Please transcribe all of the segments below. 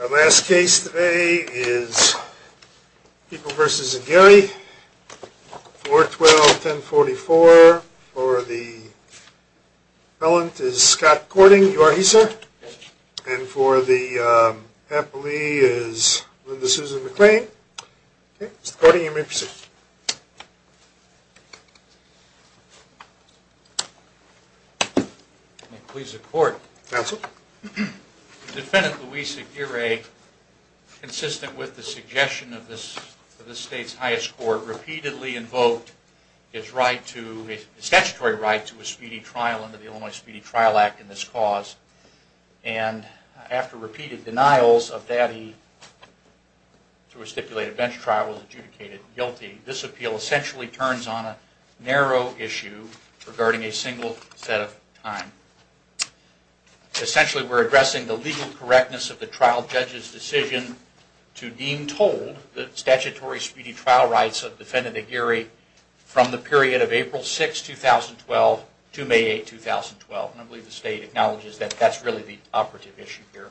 Our last case today is People v. Aguirre, 412-1044. For the appellant is Scott Cording, you are he, sir. And for the appellee is Linda Susan McLean. Mr. Cording, you may proceed. May it please the court. Counsel. Defendant Luis Aguirre, consistent with the suggestion of this state's highest court, repeatedly invoked his statutory right to a speedy trial under the Illinois Speedy Trial Act in this cause. And after repeated denials of that he, through a stipulated bench trial, was adjudicated guilty. This appeal essentially turns on a narrow issue regarding a single set of time. Essentially we're addressing the legal correctness of the trial judge's decision to deem told the statutory speedy trial rights of defendant Aguirre from the period of April 6, 2012 to May 8, 2012. And I believe the state acknowledges that that's really the operative issue here.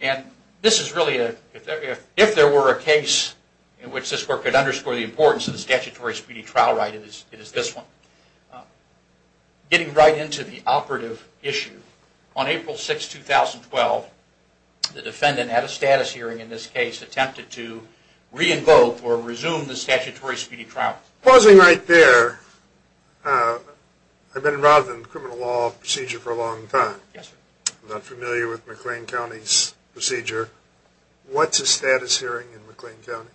And this is really, if there were a case in which this court could underscore the importance of the statutory speedy trial right, it is this one. Getting right into the operative issue, on April 6, 2012, the defendant at a status hearing in this case attempted to re-invoke or resume the statutory speedy trial. Pausing right there, I've been involved in criminal law procedure for a long time. I'm not familiar with McLean County's procedure. What's a status hearing in McLean County?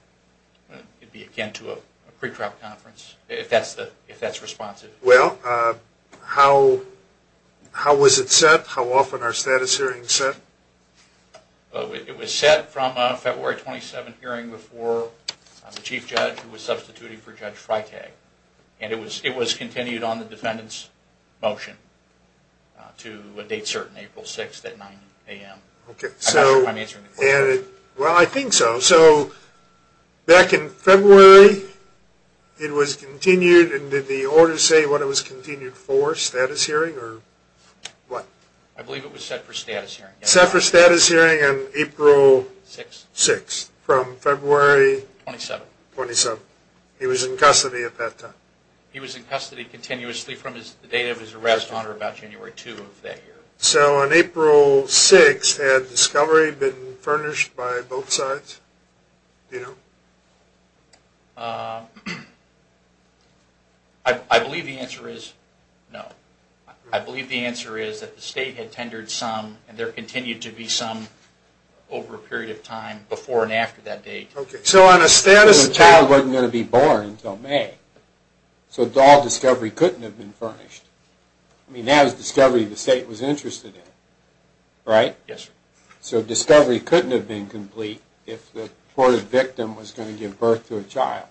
It would be akin to a pre-trial conference, if that's responsive. Well, how was it set? How often are status hearings set? It was set from a February 27 hearing before the Chief Judge, who was substituting for Judge Freitag. And it was continued on the defendant's motion to a date certain, April 6 at 9 a.m. Well, I think so. So, back in February, it was continued, and did the order say when it was continued for a status hearing? I believe it was set for a status hearing. Set for a status hearing on April 6, from February 27. He was in custody at that time. He was in custody continuously from the date of his arrest on or about January 2 of that year. So, on April 6, had discovery been furnished by both sides? I believe the answer is no. I believe the answer is that the state had tendered some, and there continued to be some, over a period of time, before and after that date. So, on a status hearing... So, the child wasn't going to be born until May. So, all discovery couldn't have been furnished. I mean, that was discovery the state was interested in. Right? Yes, sir. So, discovery couldn't have been complete if the courted victim was going to give birth to a child.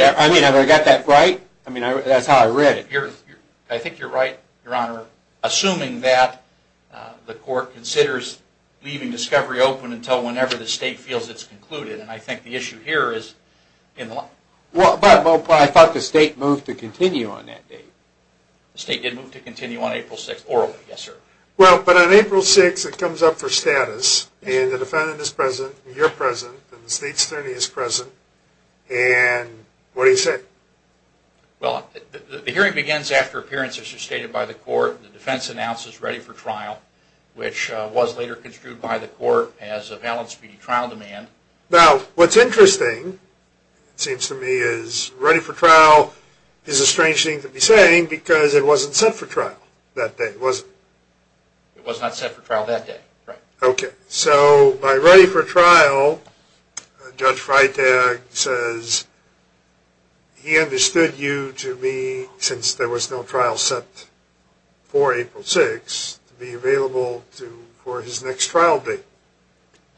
I mean, have I got that right? I mean, that's how I read it. I think you're right, Your Honor. Assuming that the court considers leaving discovery open until whenever the state feels it's concluded, and I think the issue here is... Well, I thought the state moved to continue on that date. The state did move to continue on April 6, orally. Yes, sir. Well, but on April 6, it comes up for status, and the defendant is present, and you're present, and the state's attorney is present, and what do you say? Well, the hearing begins after appearances are stated by the court, and the defense announces ready for trial, which was later construed by the court as a valid speedy trial demand. Now, what's interesting, it seems to me, is ready for trial is a strange thing to be saying because it wasn't set for trial that day, was it? It was not set for trial that day. Okay. So, by ready for trial, Judge Freitag says he understood you to be, since there was no trial set for April 6, to be available for his next trial date.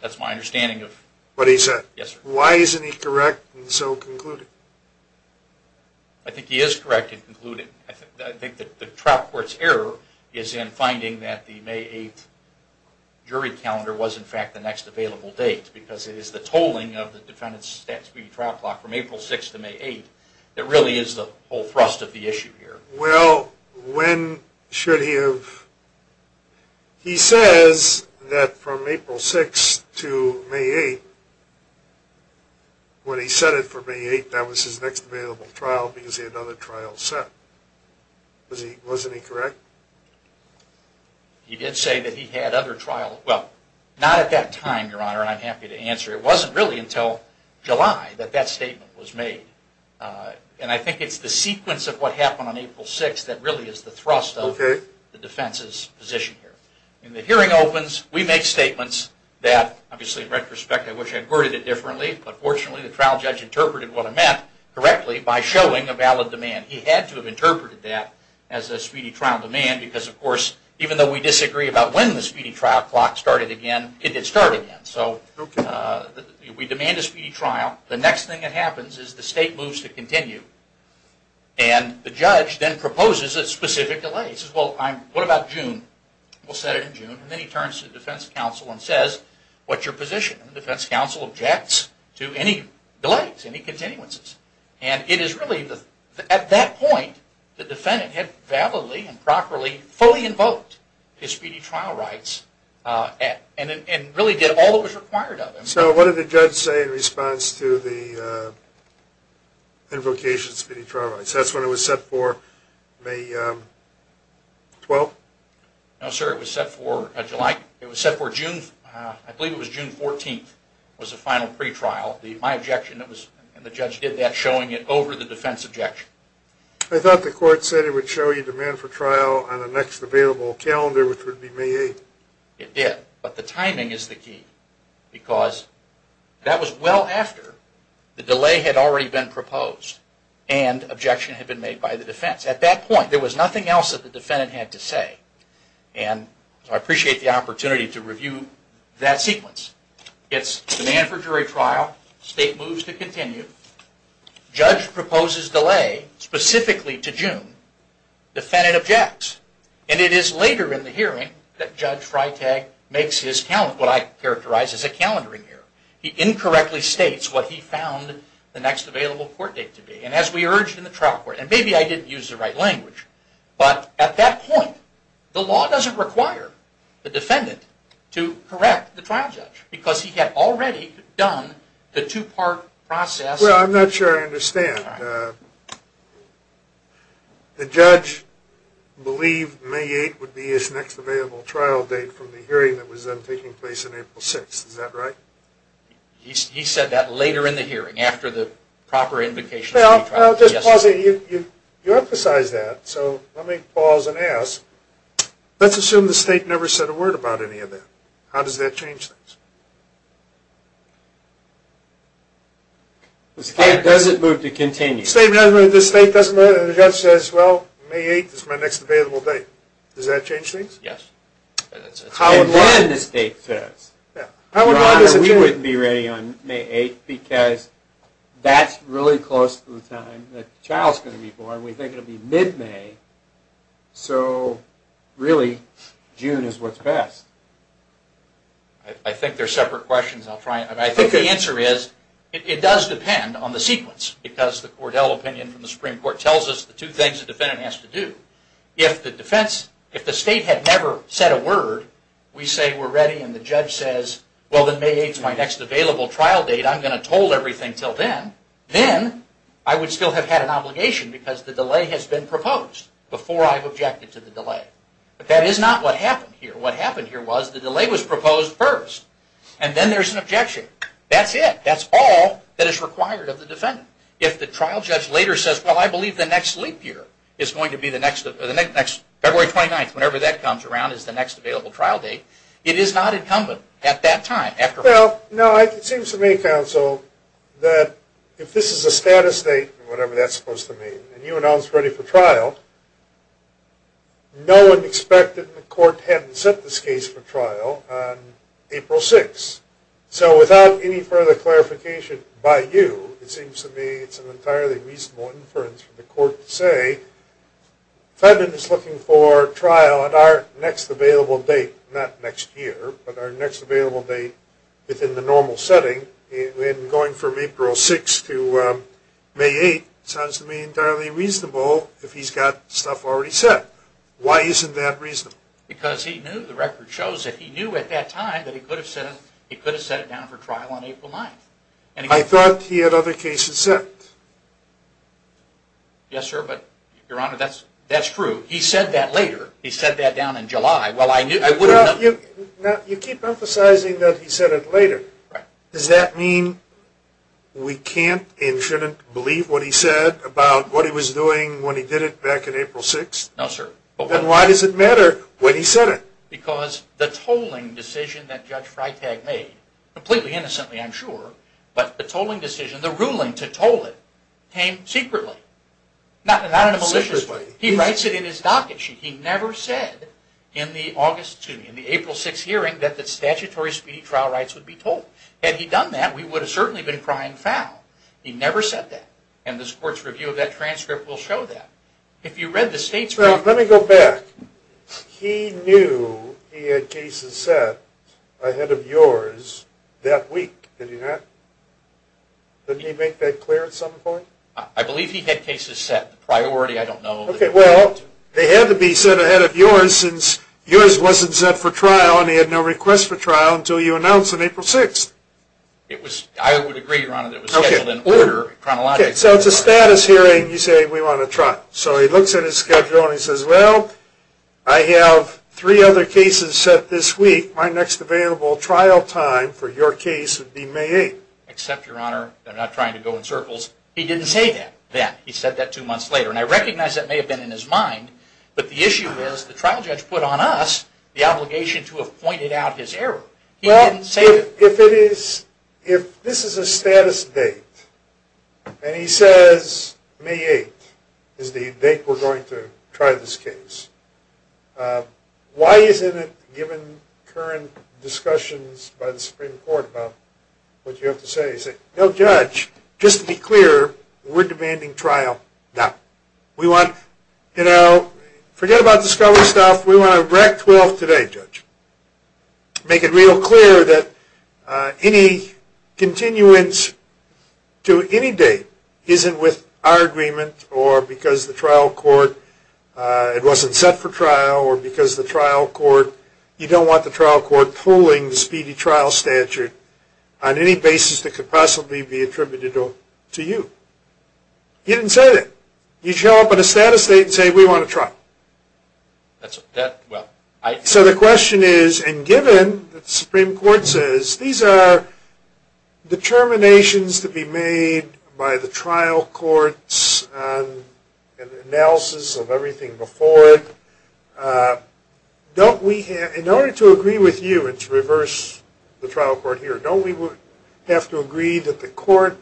That's my understanding of... What he said. Yes, sir. Why isn't he correct in so concluding? I think he is correct in concluding. I think the trial court's error is in finding that the May 8th jury calendar was, in fact, the next available date because it is the tolling of the defendant's stat speedy trial clock from April 6 to May 8 that really is the whole thrust of the issue here. Well, when should he have... He says that from April 6 to May 8, when he set it for May 8, that was his next available trial because he had other trials set. Wasn't he correct? He did say that he had other trials... Well, not at that time, Your Honor, and I'm happy to answer. It wasn't really until July that that statement was made. And I think it's the sequence of what happened on April 6 that really is the thrust of the defense's position here. When the hearing opens, we make statements that, obviously, in retrospect, I wish I had worded it differently, but fortunately, the trial judge interpreted what I meant correctly by showing a valid demand. He had to have interpreted that as a speedy trial demand because, of course, even though we disagree about when the speedy trial clock started again, it did start again. So we demand a speedy trial. The next thing that happens is the state moves to continue, and the judge then proposes a specific delay. He says, well, what about June? We'll set it in June, and then he turns to the defense counsel and says, what's your position? And the defense counsel objects to any delays, any continuances. And it is really at that point the defendant had validly and properly fully invoked his speedy trial rights and really did all that was required of him. So what did the judge say in response to the invocation of speedy trial rights? That's when it was set for May 12? No, sir. It was set for July. It was set for June. I believe it was June 14 was the final pretrial. My objection was, and the judge did that, showing it over the defense objection. I thought the court said it would show you demand for trial on the next available calendar, which would be May 8. It did, but the timing is the key because that was well after the delay had already been proposed and objection had been made by the defense. At that point, there was nothing else that the defendant had to say. And I appreciate the opportunity to review that sequence. It's a demand for jury trial. State moves to continue. Judge proposes delay, specifically to June. Defendant objects. And it is later in the hearing that Judge Freitag makes what I characterize as a calendaring error. He incorrectly states what he found the next available court date to be. And as we urged in the trial court, and maybe I didn't use the right language, but at that point, the law doesn't require the defendant to correct the trial judge because he had already done the two-part process. Well, I'm not sure I understand. The judge believed May 8 would be his next available trial date from the hearing that was then taking place on April 6. Is that right? He said that later in the hearing, after the proper invocation. Well, I'll just pause here. You emphasized that, so let me pause and ask. Let's assume the state never said a word about any of that. How does that change things? The state doesn't move to continue. The state doesn't move, and the judge says, well, May 8 is my next available date. Does that change things? Yes. And then the state says, we wouldn't be ready on May 8 because that's really close to the time the child's going to be born. We think it'll be mid-May. So, really, June is what's best. I think they're separate questions. I think the answer is, it does depend on the sequence. Because the Cordell opinion from the Supreme Court tells us the two things the defendant has to do. If the state had never said a word, we say we're ready, and the judge says, well, then May 8 is my next available trial date. I'm going to hold everything until then. Then, I would still have had an obligation because the delay has been proposed before I've objected to the delay. But that is not what happened here. What happened here was the delay was proposed first, and then there's an objection. That's it. That's all that is required of the defendant. If the trial judge later says, well, I believe the next leap year is going to be February 29th, whenever that comes around, is the next available trial date, it is not incumbent at that time. Well, it seems to me, counsel, that if this is a status date, whatever that's supposed to mean, and you announce ready for trial, no one would expect that the court hadn't set this case for trial on April 6. So, without any further clarification by you, it seems to me it's an entirely reasonable inference for the court to say, the defendant is looking for trial at our next available date, not next year, but our next available date within the normal setting. Going from April 6 to May 8, it sounds to me entirely reasonable if he's got stuff already set. Why isn't that reasonable? Because he knew, the record shows that he knew at that time that he could have set it down for trial on April 9th. I thought he had other cases set. Yes, sir, but, Your Honor, that's true. He said that later. He said that down in July. Now, you keep emphasizing that he said it later. Does that mean we can't and shouldn't believe what he said about what he was doing when he did it back on April 6th? No, sir. Then why does it matter when he said it? Because the tolling decision that Judge Freitag made, completely innocently, I'm sure, but the tolling decision, the ruling to toll it, came secretly. Not in a malicious way. Secretly. He never said in the April 6 hearing that the statutory speedy trial rights would be tolled. Had he done that, we would have certainly been crying foul. He never said that, and this Court's review of that transcript will show that. Let me go back. He knew he had cases set ahead of yours that week. Did he make that clear at some point? I believe he had cases set. Okay, well, they had to be set ahead of yours since yours wasn't set for trial and he had no request for trial until you announced on April 6th. I would agree, Your Honor, that it was scheduled in order. Okay, so it's a status hearing, you say, we want to trial. So he looks at his schedule and he says, well, I have three other cases set this week. My next available trial time for your case would be May 8th. Except, Your Honor, they're not trying to go in circles. He didn't say that then. He said that two months later, and I recognize that may have been in his mind, but the issue is the trial judge put on us the obligation to have pointed out his error. He didn't say that. Well, if this is a status date and he says May 8th is the date we're going to try this case, why isn't it given current discussions by the Supreme Court about what you have to say? You say, no, Judge, just to be clear, we're demanding trial now. We want, you know, forget about discovery stuff. We want a rec 12 today, Judge. Make it real clear that any continuance to any date isn't with our agreement or because the trial court, it wasn't set for trial or because the trial court, you don't want the trial court pulling the speedy trial statute on any basis that could possibly be attributed to you. He didn't say that. You show up on a status date and say we want to try. So the question is, and given that the Supreme Court says these are determinations to be made by the trial courts and analysis of everything before it, in order to agree with you and to reverse the trial court here, don't we have to agree that the court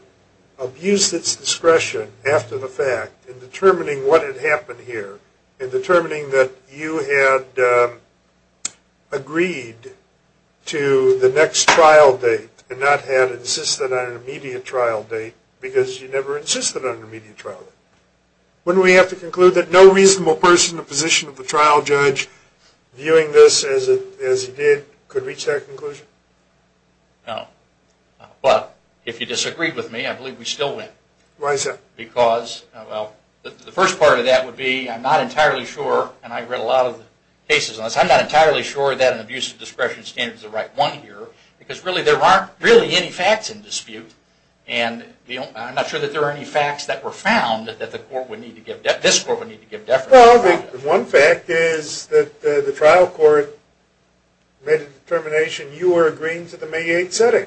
abused its discretion after the fact in determining what had happened here, in determining that you had agreed to the next trial date and not had insisted on an immediate trial date because you never insisted on an immediate trial date? Wouldn't we have to conclude that no reasonable person in the position of the trial judge, viewing this as he did, could reach that conclusion? No. But if you disagreed with me, I believe we still win. Why is that? Because, well, the first part of that would be I'm not entirely sure, and I've read a lot of the cases on this, I'm not entirely sure that an abuse of discretion standard is the right one here because really there aren't really any facts in dispute, and I'm not sure that there are any facts that were found that this court would need to give deference to. Well, one fact is that the trial court made a determination you were agreeing to the May 8th setting.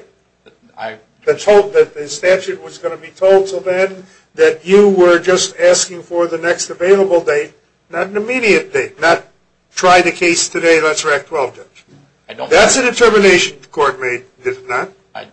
They told that the statute was going to be told until then that you were just asking for the next available date, not an immediate date, not try the case today, let's rack 12, judge. That's a determination the court made, is it not?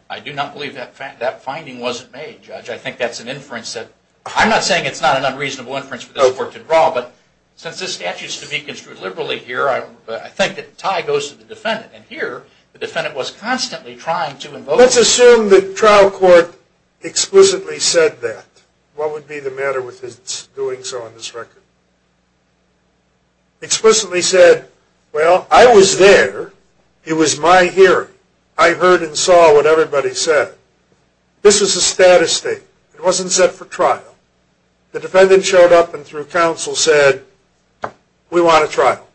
I do not believe that finding wasn't made, judge. I think that's an inference that, I'm not saying it's not an unreasonable inference for this court to draw, but since this statute is to be construed liberally here, I think that the tie goes to the defendant, and here the defendant was constantly trying to invoke. Let's assume the trial court explicitly said that. What would be the matter with its doing so on this record? Explicitly said, well, I was there. It was my hearing. I heard and saw what everybody said. This was a status statement. It wasn't set for trial. The defendant showed up and through counsel said, we want a trial,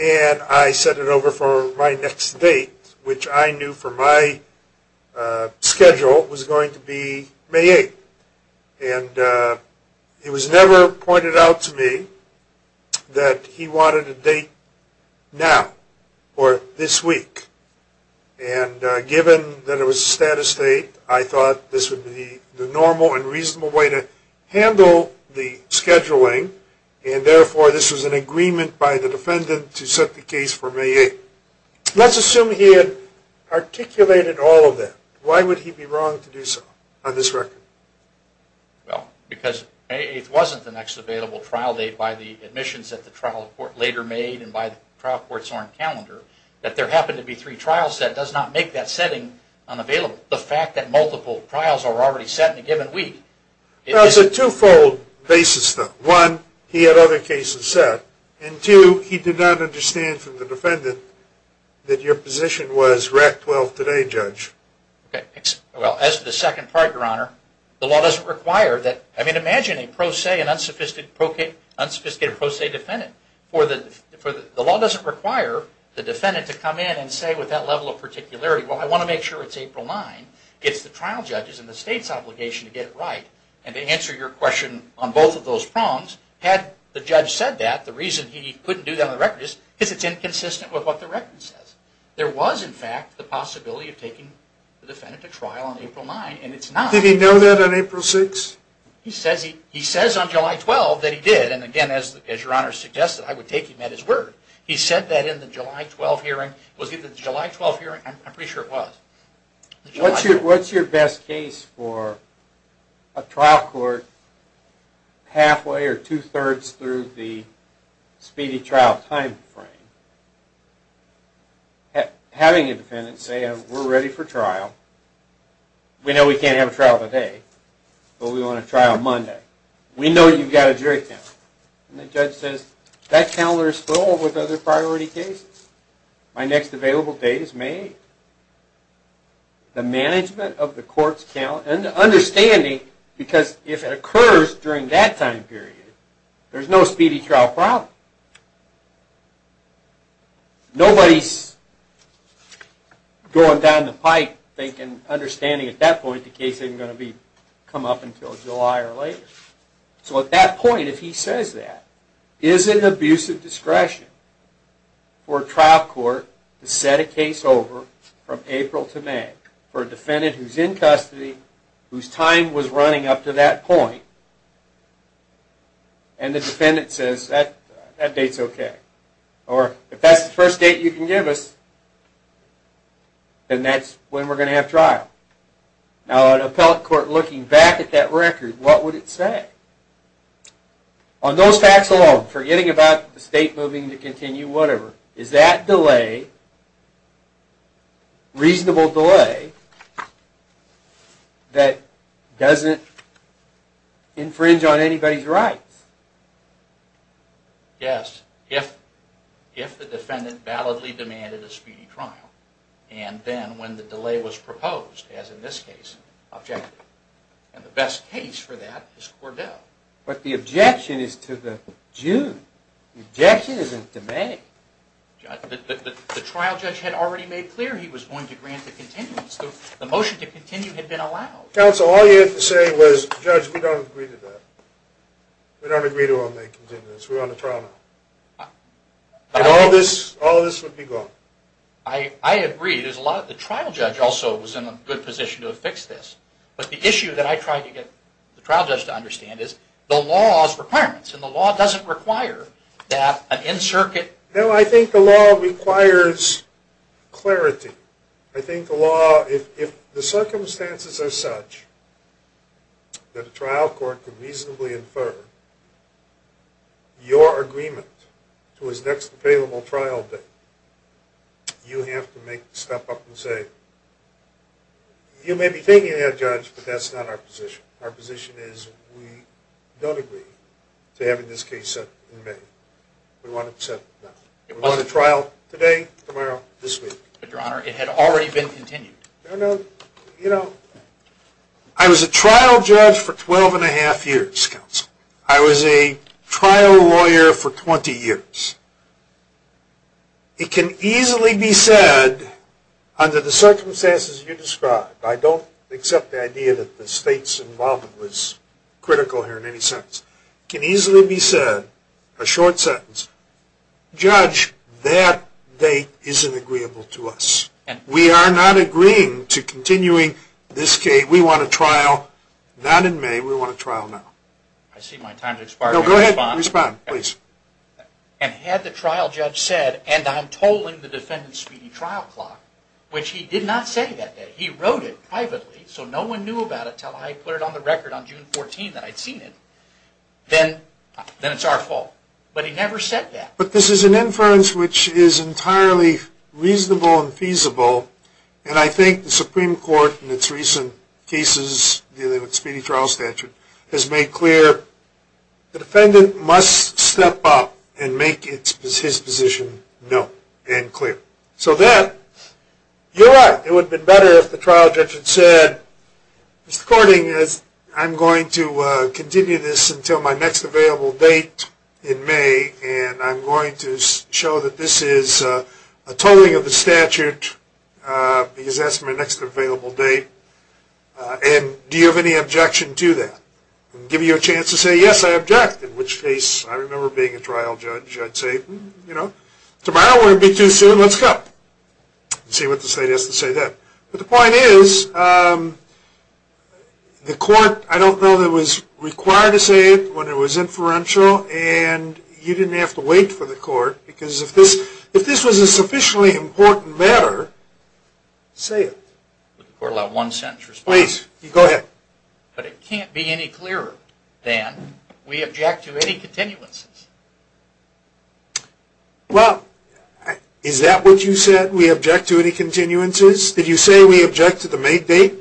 and I set it over for my next date, which I knew for my schedule was going to be May 8th, and it was never pointed out to me that he wanted a date now or this week, and given that it was a status state, I thought this would be the normal and reasonable way to handle the scheduling, and therefore this was an agreement by the defendant to set the case for May 8th. Let's assume he had articulated all of that. Why would he be wrong to do so on this record? Well, because May 8th wasn't the next available trial date by the admissions that the trial court later made and by the trial court's own calendar, that there happened to be three trials that does not make that setting unavailable. The fact that multiple trials are already set in a given week. It was a twofold basis, though. One, he had other cases set, and two, he did not understand from the defendant that your position was RAC-12 today, Judge. Well, as to the second part, Your Honor, the law doesn't require that. I mean, imagine a pro se and unsophisticated pro se defendant. The law doesn't require the defendant to come in and say with that level of particularity, well, I want to make sure it's April 9th. It's the trial judge's and the state's obligation to get it right, and to answer your question on both of those prongs. Had the judge said that, the reason he couldn't do that on the record is because it's inconsistent with what the record says. There was, in fact, the possibility of taking the defendant to trial on April 9th, and it's not. Did he know that on April 6th? He says on July 12th that he did, and again, as Your Honor suggested, I would take him at his word. He said that in the July 12th hearing. Was it the July 12th hearing? I'm pretty sure it was. What's your best case for a trial court halfway or two-thirds through the speedy trial time frame? Having a defendant say, we're ready for trial. We know we can't have a trial today, but we want a trial Monday. We know you've got a jury panel. And the judge says, that panel is full with other priority cases. My next available date is May 8th. The management of the court's account, and the understanding, because if it occurs during that time period, there's no speedy trial problem. Nobody's going down the pipe thinking, understanding at that point, the case isn't going to come up until July or later. So at that point, if he says that, is it an abusive discretion for a trial court to set a case over from April to May for a defendant who's in custody, whose time was running up to that point, and the defendant says, that date's okay. Or, if that's the first date you can give us, then that's when we're going to have trial. Now, an appellate court looking back at that record, what would it say? On those facts alone, forgetting about the state moving to continue, whatever, is that delay, reasonable delay, that doesn't infringe on anybody's rights? Yes, if the defendant validly demanded a speedy trial, and then when the delay was proposed, as in this case, objective. And the best case for that is Cordele. But the objection is to the June. The objection isn't to May. But the trial judge had already made clear he was going to grant the continuance. The motion to continue had been allowed. Counsel, all you had to say was, Judge, we don't agree to that. We don't agree to a May continuance. We're on a trial now. And all this would be gone. I agree. The trial judge also was in a good position to have fixed this. But the issue that I tried to get the trial judge to understand is the law's requirements. And the law doesn't require that an in-circuit... No, I think the law requires clarity. I think the law, if the circumstances are such that a trial court can reasonably infer your agreement to his next available trial date, you have to make the step up and say, you may be thinking that, Judge, but that's not our position. Our position is we don't agree to having this case set in May. We want it set now. We're on a trial today, tomorrow, this week. But, Your Honor, it had already been continued. No, no. You know, I was a trial judge for 12 and a half years, Counsel. I was a trial lawyer for 20 years. It can easily be said, under the circumstances you described, I don't accept the idea that the state's involvement was critical here in any sense. It can easily be said, a short sentence, Judge, that date isn't agreeable to us. We are not agreeing to continuing this case. We want a trial not in May. We want a trial now. I see my time has expired. No, go ahead. Respond, please. And had the trial judge said, and I'm tolling the defendant's speedy trial clock, which he did not say that day. He wrote it privately so no one knew about it until I put it on the record on June 14th that I'd seen it, then it's our fault. But he never said that. But this is an inference which is entirely reasonable and feasible, and I think the Supreme Court in its recent cases dealing with speedy trial statute has made clear the defendant must step up and make his position known and clear. So then, you're right. It would have been better if the trial judge had said, Mr. Corning, I'm going to continue this until my next available date in May, and I'm going to show that this is a tolling of the statute because that's my next available date, and do you have any objection to that? I'll give you a chance to say, yes, I object. In which case, I remember being a trial judge. I'd say, you know, tomorrow won't be too soon. Let's go and see what the state has to say then. But the point is the court, I don't know that it was required to say it when it was inferential, and you didn't have to wait for the court because if this was a sufficiently important matter, say it. Would the court allow one sentence response? Please, go ahead. But it can't be any clearer than we object to any continuances. Well, is that what you said, we object to any continuances? Did you say we object to the May date?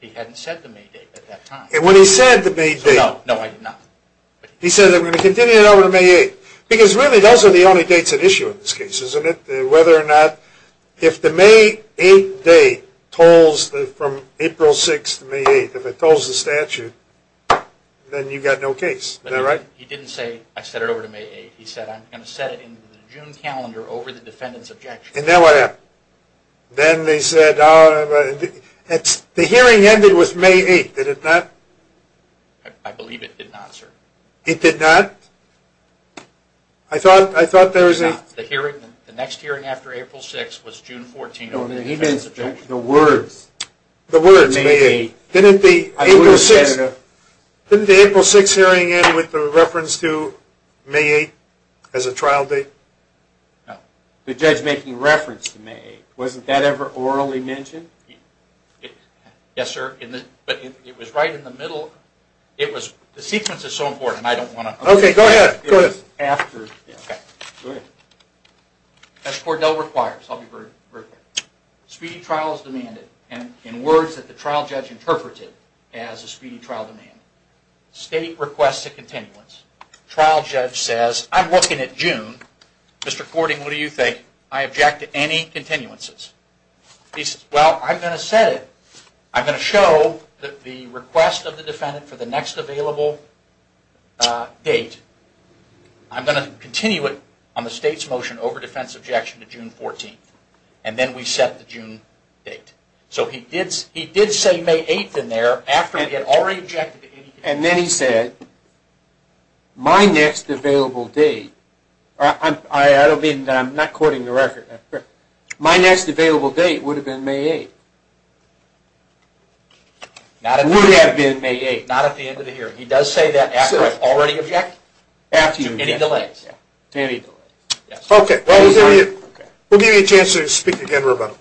He hadn't said the May date at that time. When he said the May date. No, I did not. He said, I'm going to continue it over to May 8th. Because really those are the only dates at issue in this case, isn't it? Whether or not if the May 8th date tolls from April 6th to May 8th, if it tolls the statute, then you've got no case. Is that right? He didn't say, I set it over to May 8th. He said, I'm going to set it in the June calendar over the defendant's objection. And then what happened? Then they said, the hearing ended with May 8th. Did it not? I believe it did not, sir. It did not? I thought there was a... The hearing, the next hearing after April 6th was June 14th over the defendant's objection. The words, May 8th. Didn't the April 6th hearing end with the reference to May 8th as a trial date? No. The judge making reference to May 8th. Wasn't that ever orally mentioned? Yes, sir. But it was right in the middle. The sequence is so important, I don't want to... Okay, go ahead. Go ahead. As Cordell requires, I'll be very clear. Speedy trial is demanded, and in words that the trial judge interpreted as a speedy trial demand. State requests a continuance. Trial judge says, I'm looking at June. Mr. Cording, what do you think? I object to any continuances. He says, well, I'm going to set it. I'm going to show that the request of the defendant for the next available date, I'm going to continue it on the state's motion over defense objection to June 14th, and then we set the June date. So he did say May 8th in there after he had already objected to any... And then he said, my next available date... I don't mean, I'm not quoting the record. My next available date would have been May 8th. Would have been May 8th. Not at the end of the hearing. He does say that after I've already objected to any delays. Okay. We'll give you a chance to speak again, Roberto.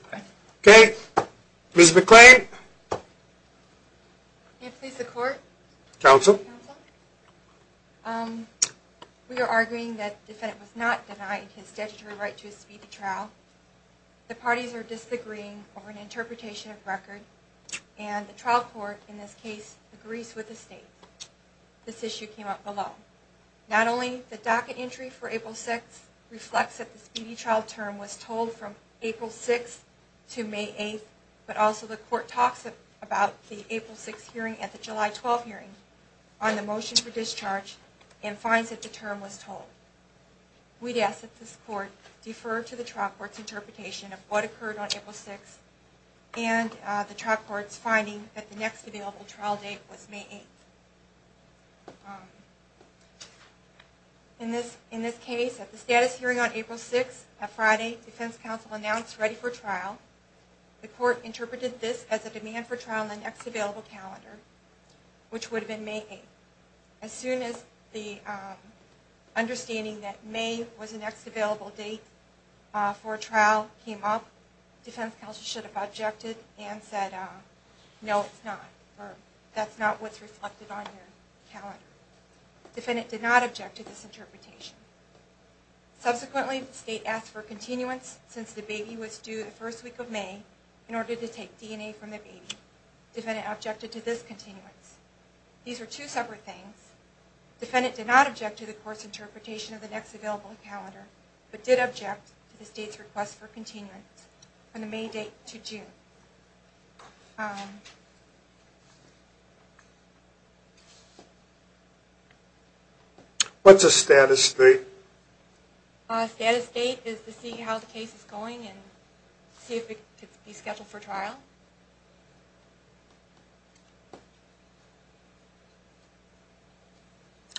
Okay. Ms. McClain. May it please the Court? Counsel. We are arguing that the defendant was not denied his statutory right to a speedy trial. The parties are disagreeing over an interpretation of record, and the trial court in this case agrees with the state. This issue came up below. Not only the docket entry for April 6th reflects that the speedy trial term was told from April 6th to May 8th, but also the Court talks about the April 6th hearing at the July 12th hearing. On the motion for discharge and finds that the term was told. We'd ask that this Court defer to the trial court's interpretation of what occurred on April 6th and the trial court's finding that the next available trial date was May 8th. In this case, at the status hearing on April 6th, at Friday, defense counsel announced ready for trial. The Court interpreted this as a demand for trial on the next available calendar, which would have been May 8th. As soon as the understanding that May was the next available date for trial came up, defense counsel should have objected and said, no, it's not, or that's not what's reflected on your calendar. The defendant did not object to this interpretation. Subsequently, the state asked for continuance since the baby was due the first week of May in order to take DNA from the baby. Defendant objected to this continuance. These are two separate things. Defendant did not object to the Court's interpretation of the next available calendar, but did object to the state's request for continuance from the May date to June. What's a status date? A status date is to see how the case is going and see if it can be scheduled for trial.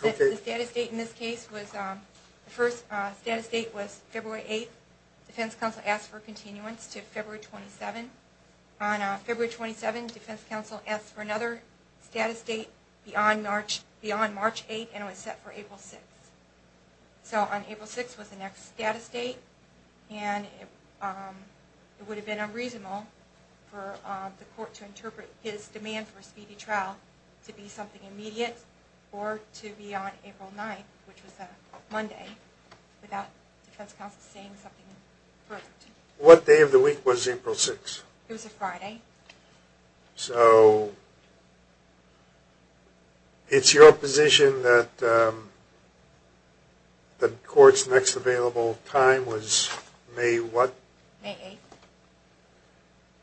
The first status date in this case was February 8th. Defense counsel asked for continuance to February 27th. On February 27th, defense counsel asked for another status date beyond March 8th and it was set for April 6th. So on April 6th was the next status date and it would have been unreasonable for the Court to interpret his demand for a speedy trial to be something immediate or to be on April 9th, which was a Monday, without defense counsel saying something further. What day of the week was April 6th? It was a Friday. So it's your position that the Court's next available time was May what? May 8th.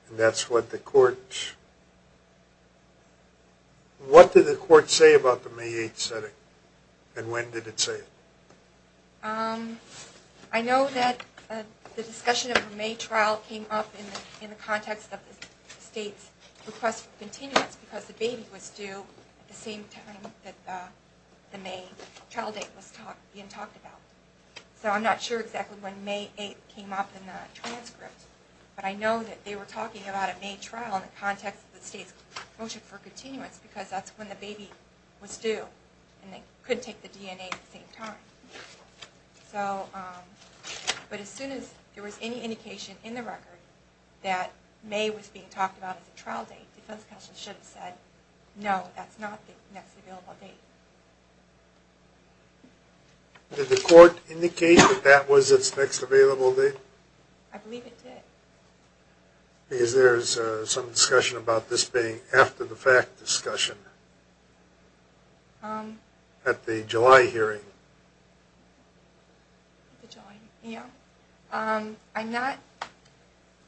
And that's what the Court... What did the Court say about the May 8th setting and when did it say it? I know that the discussion of a May trial came up in the context of the State's request for continuance because the baby was due at the same time that the May trial date was being talked about. So I'm not sure exactly when May 8th came up in the transcript, but I know that they were talking about a May trial in the context of the State's motion for continuance because that's when the baby was due and they couldn't take the DNA at the same time. But as soon as there was any indication in the record that May was being talked about as a trial date, defense counsel should have said, no, that's not the next available date. Did the Court indicate that that was its next available date? I believe it did. Is there some discussion about this being after-the-fact discussion at the July hearing?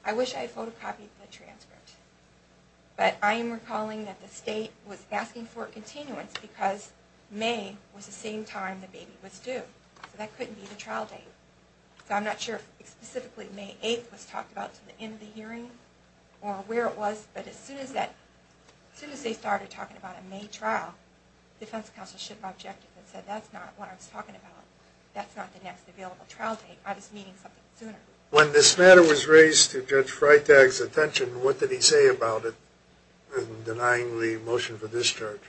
I wish I had photocopied the transcript, but I am recalling that the State was asking for continuance because May was the same time the baby was due, so that couldn't be the trial date. So I'm not sure if specifically May 8th was talked about to the end of the hearing or where it was, but as soon as they started talking about a May trial, defense counsel should have objected and said, that's not what I was talking about. That's not the next available trial date. I was meaning something sooner. When this matter was raised to Judge Freitag's attention, what did he say about it in denying the motion for discharge?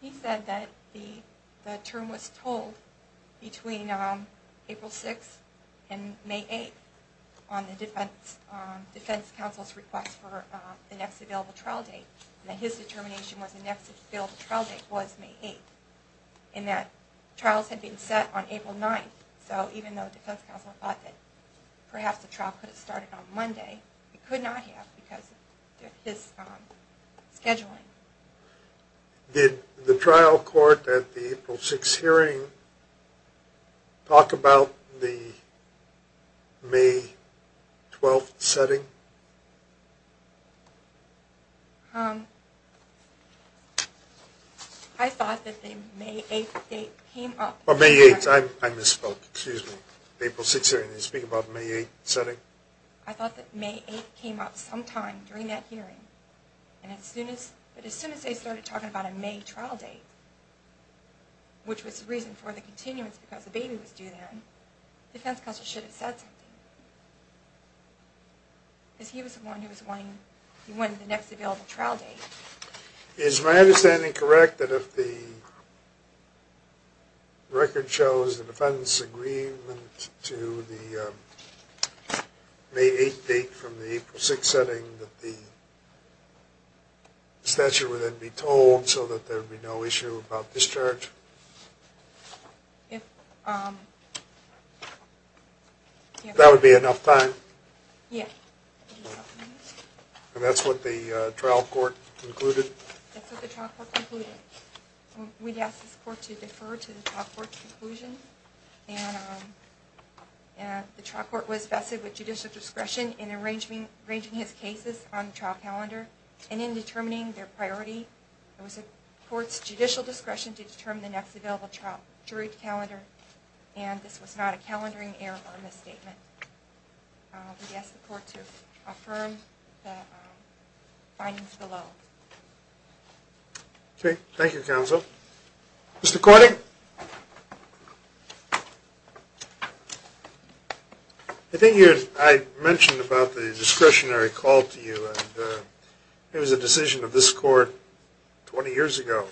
He said that the term was told between April 6th and May 8th on the defense counsel's request for the next available trial date, and that his determination was the next available trial date was May 8th, and that trials had been set on April 9th, so even though defense counsel thought that perhaps the trial could have started on Monday, it could not have because of this scheduling. Did the trial court at the April 6th hearing talk about the May 12th setting? I thought that the May 8th date came up. Oh, May 8th, I misspoke, excuse me. The April 6th hearing didn't speak about the May 8th setting? I thought that May 8th came up sometime during that hearing, but as soon as they started talking about a May trial date, which was the reason for the continuance because the baby was due then, defense counsel should have said something, because he was the one who was wanting the next available trial date. Is my understanding correct that if the record shows the defense agreement to the May 8th date from the April 6th setting, that the statute would then be told so that there would be no issue about discharge? That would be enough time? Yes. And that's what the trial court concluded? That's what the trial court concluded. We'd ask this court to defer to the trial court's conclusion. The trial court was vested with judicial discretion in arranging his cases on the trial calendar and in determining their priority. It was the court's judicial discretion to determine the next available trial jury calendar, and this was not a calendaring error or misstatement. We'd ask the court to affirm the findings below. Okay. Thank you, counsel. Mr. Corning? I think I mentioned about the discretionary call to you, and it was a decision of this court 20 years ago.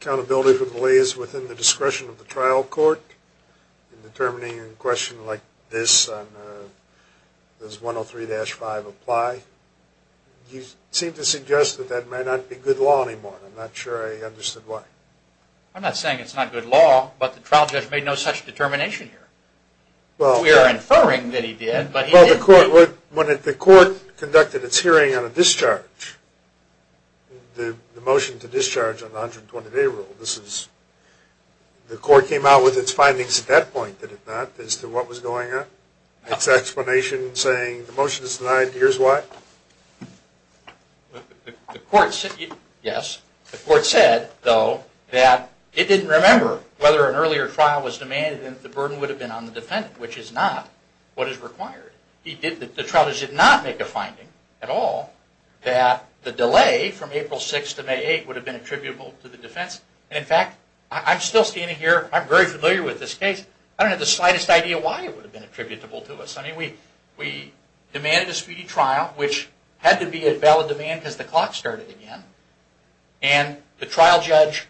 Accountability for the lay is within the discretion of the trial court in determining a question like this on does 103-5 apply. You seem to suggest that that may not be good law anymore. I'm not sure I understood why. I'm not saying it's not good law, but the trial judge made no such determination here. We are inferring that he did, but he did. When the court conducted its hearing on a discharge, the motion to discharge on the 120-day rule, the court came out with its findings at that point, did it not, as to what was going on? Its explanation saying the motion is denied, here's why? Yes. The court said, though, that it didn't remember whether an earlier trial was demanded and the burden would have been on the defendant, which is not what is required. The trial judge did not make a finding at all that the delay from April 6th to May 8th would have been attributable to the defense. In fact, I'm still standing here, I'm very familiar with this case, I don't have the slightest idea why it would have been attributable to us. We demanded a speedy trial, which had to be at valid demand because the clock started again, and the trial judge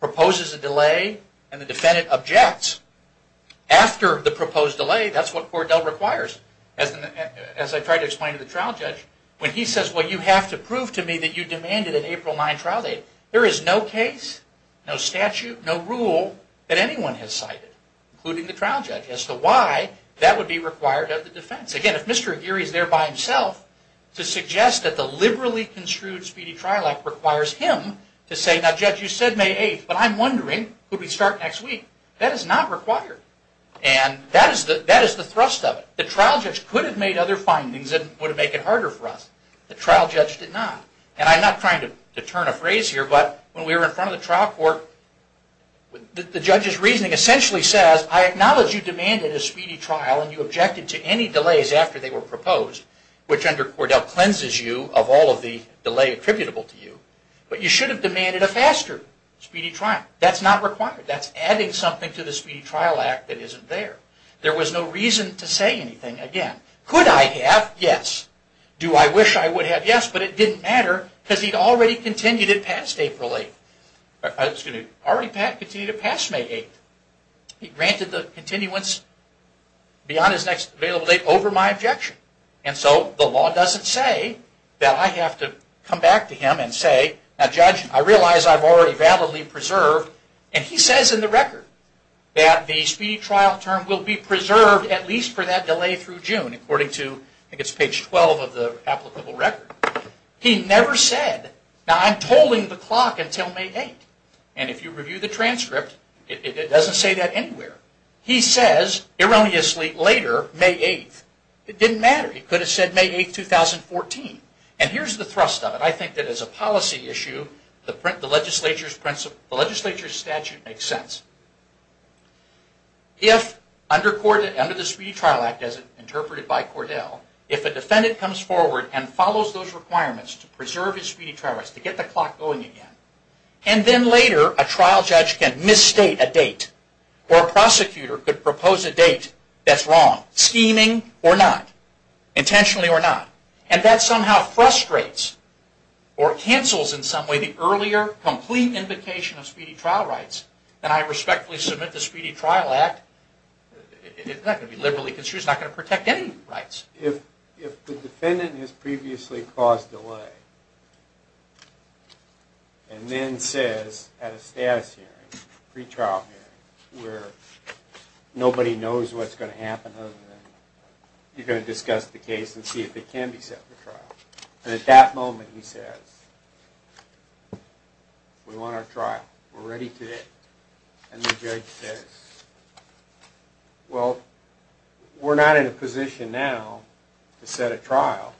proposes a delay and the defendant objects. After the proposed delay, that's what Cordell requires. As I tried to explain to the trial judge, when he says, well, you have to prove to me that you demanded an April 9 trial date, there is no case, no statute, no rule that anyone has cited, including the trial judge, as to why that would be required of the defense. Again, if Mr. Aguirre is there by himself to suggest that the liberally construed speedy trial act requires him to say, now judge, you said May 8th, but I'm wondering, could we start next week? That is not required. And that is the thrust of it. The trial judge could have made other findings that would have made it harder for us. The trial judge did not. And I'm not trying to turn a phrase here, but when we were in front of the trial court, the judge's reasoning essentially says, I acknowledge you demanded a speedy trial and you objected to any delays after they were proposed, which under Cordell cleanses you of all of the delay attributable to you, but you should have demanded a faster speedy trial. That's not required. That's adding something to the speedy trial act that isn't there. There was no reason to say anything again. Could I have? Yes. Do I wish I would have? Yes. But it didn't matter because he'd already continued it past May 8th. He granted the continuance beyond his next available date over my objection. And so the law doesn't say that I have to come back to him and say, now judge, I realize I've already validly preserved, and he says in the record that the speedy trial term will be preserved at least for that delay through June according to, I think it's page 12 of the applicable record. He never said, now I'm tolling the clock until May 8th. And if you review the transcript, it doesn't say that anywhere. He says, erroneously, later May 8th. It didn't matter. He could have said May 8th, 2014. And here's the thrust of it. I think that as a policy issue, the legislature's statute makes sense. If under the Speedy Trial Act, as interpreted by Cordell, if a defendant comes forward and follows those requirements to preserve his speedy trial, to get the clock going again, and then later a trial judge can misstate a date, or a prosecutor could propose a date that's wrong, scheming or not, intentionally or not. And that somehow frustrates, or cancels in some way, the earlier complete invocation of speedy trial rights. And I respectfully submit the Speedy Trial Act, it's not going to be liberally construed, it's not going to protect any rights. If the defendant has previously caused delay, and then says at a status hearing, pre-trial hearing, where nobody knows what's going to happen other than you're going to discuss the case and see if it can be set for trial. And at that moment he says, we want our trial, we're ready today. And the judge says, well, we're not in a position now to set a trial,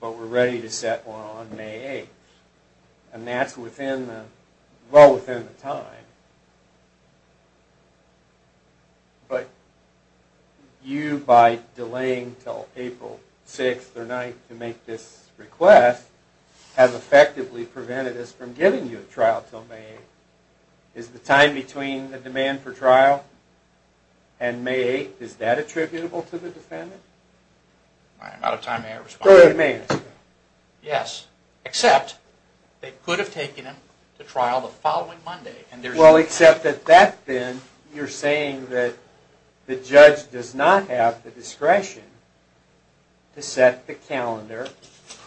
but we're ready to set one on May 8th. And that's well within the time. But you, by delaying until April 6th or 9th to make this request, have effectively prevented us from giving you a trial until May 8th. Is the time between the demand for trial and May 8th, is that attributable to the defendant? I'm out of time, may I respond? Go ahead, may I ask you? Yes, except they could have taken him to trial the following Monday, Well, except that then you're saying that the judge does not have the discretion to set the calendar,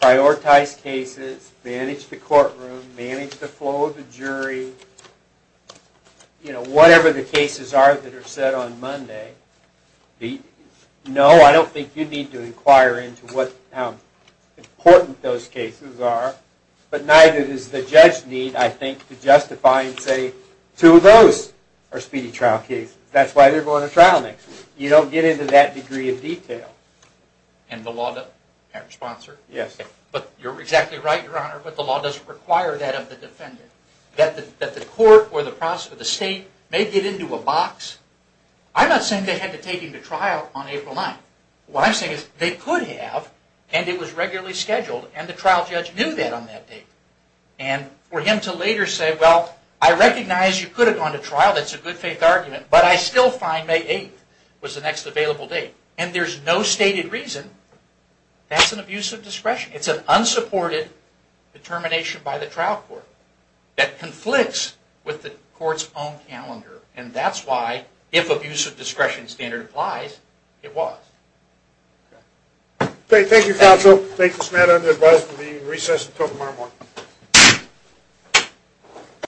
prioritize cases, manage the courtroom, manage the flow of the jury, whatever the cases are that are set on Monday. No, I don't think you need to inquire into how important those cases are, but neither does the judge need, I think, to justify and say, two of those are speedy trial cases. That's why they're going to trial next week. You don't get into that degree of detail. And the law doesn't have a response, sir? Yes. But you're exactly right, Your Honor, but the law doesn't require that of the defendant. That the court or the state may get into a box. I'm not saying they had to take him to trial on April 9th. What I'm saying is they could have, and it was regularly scheduled, and the trial judge knew that on that date. And for him to later say, well, I recognize you could have gone to trial, that's a good faith argument, but I still find May 8th was the next available date. And there's no stated reason. That's an abuse of discretion. It's an unsupported determination by the trial court that conflicts with the court's own calendar. And that's why, if abuse of discretion standard applies, it was. Okay, thank you, counsel. Thank you, Smeda and the advisers for being in recess until tomorrow morning.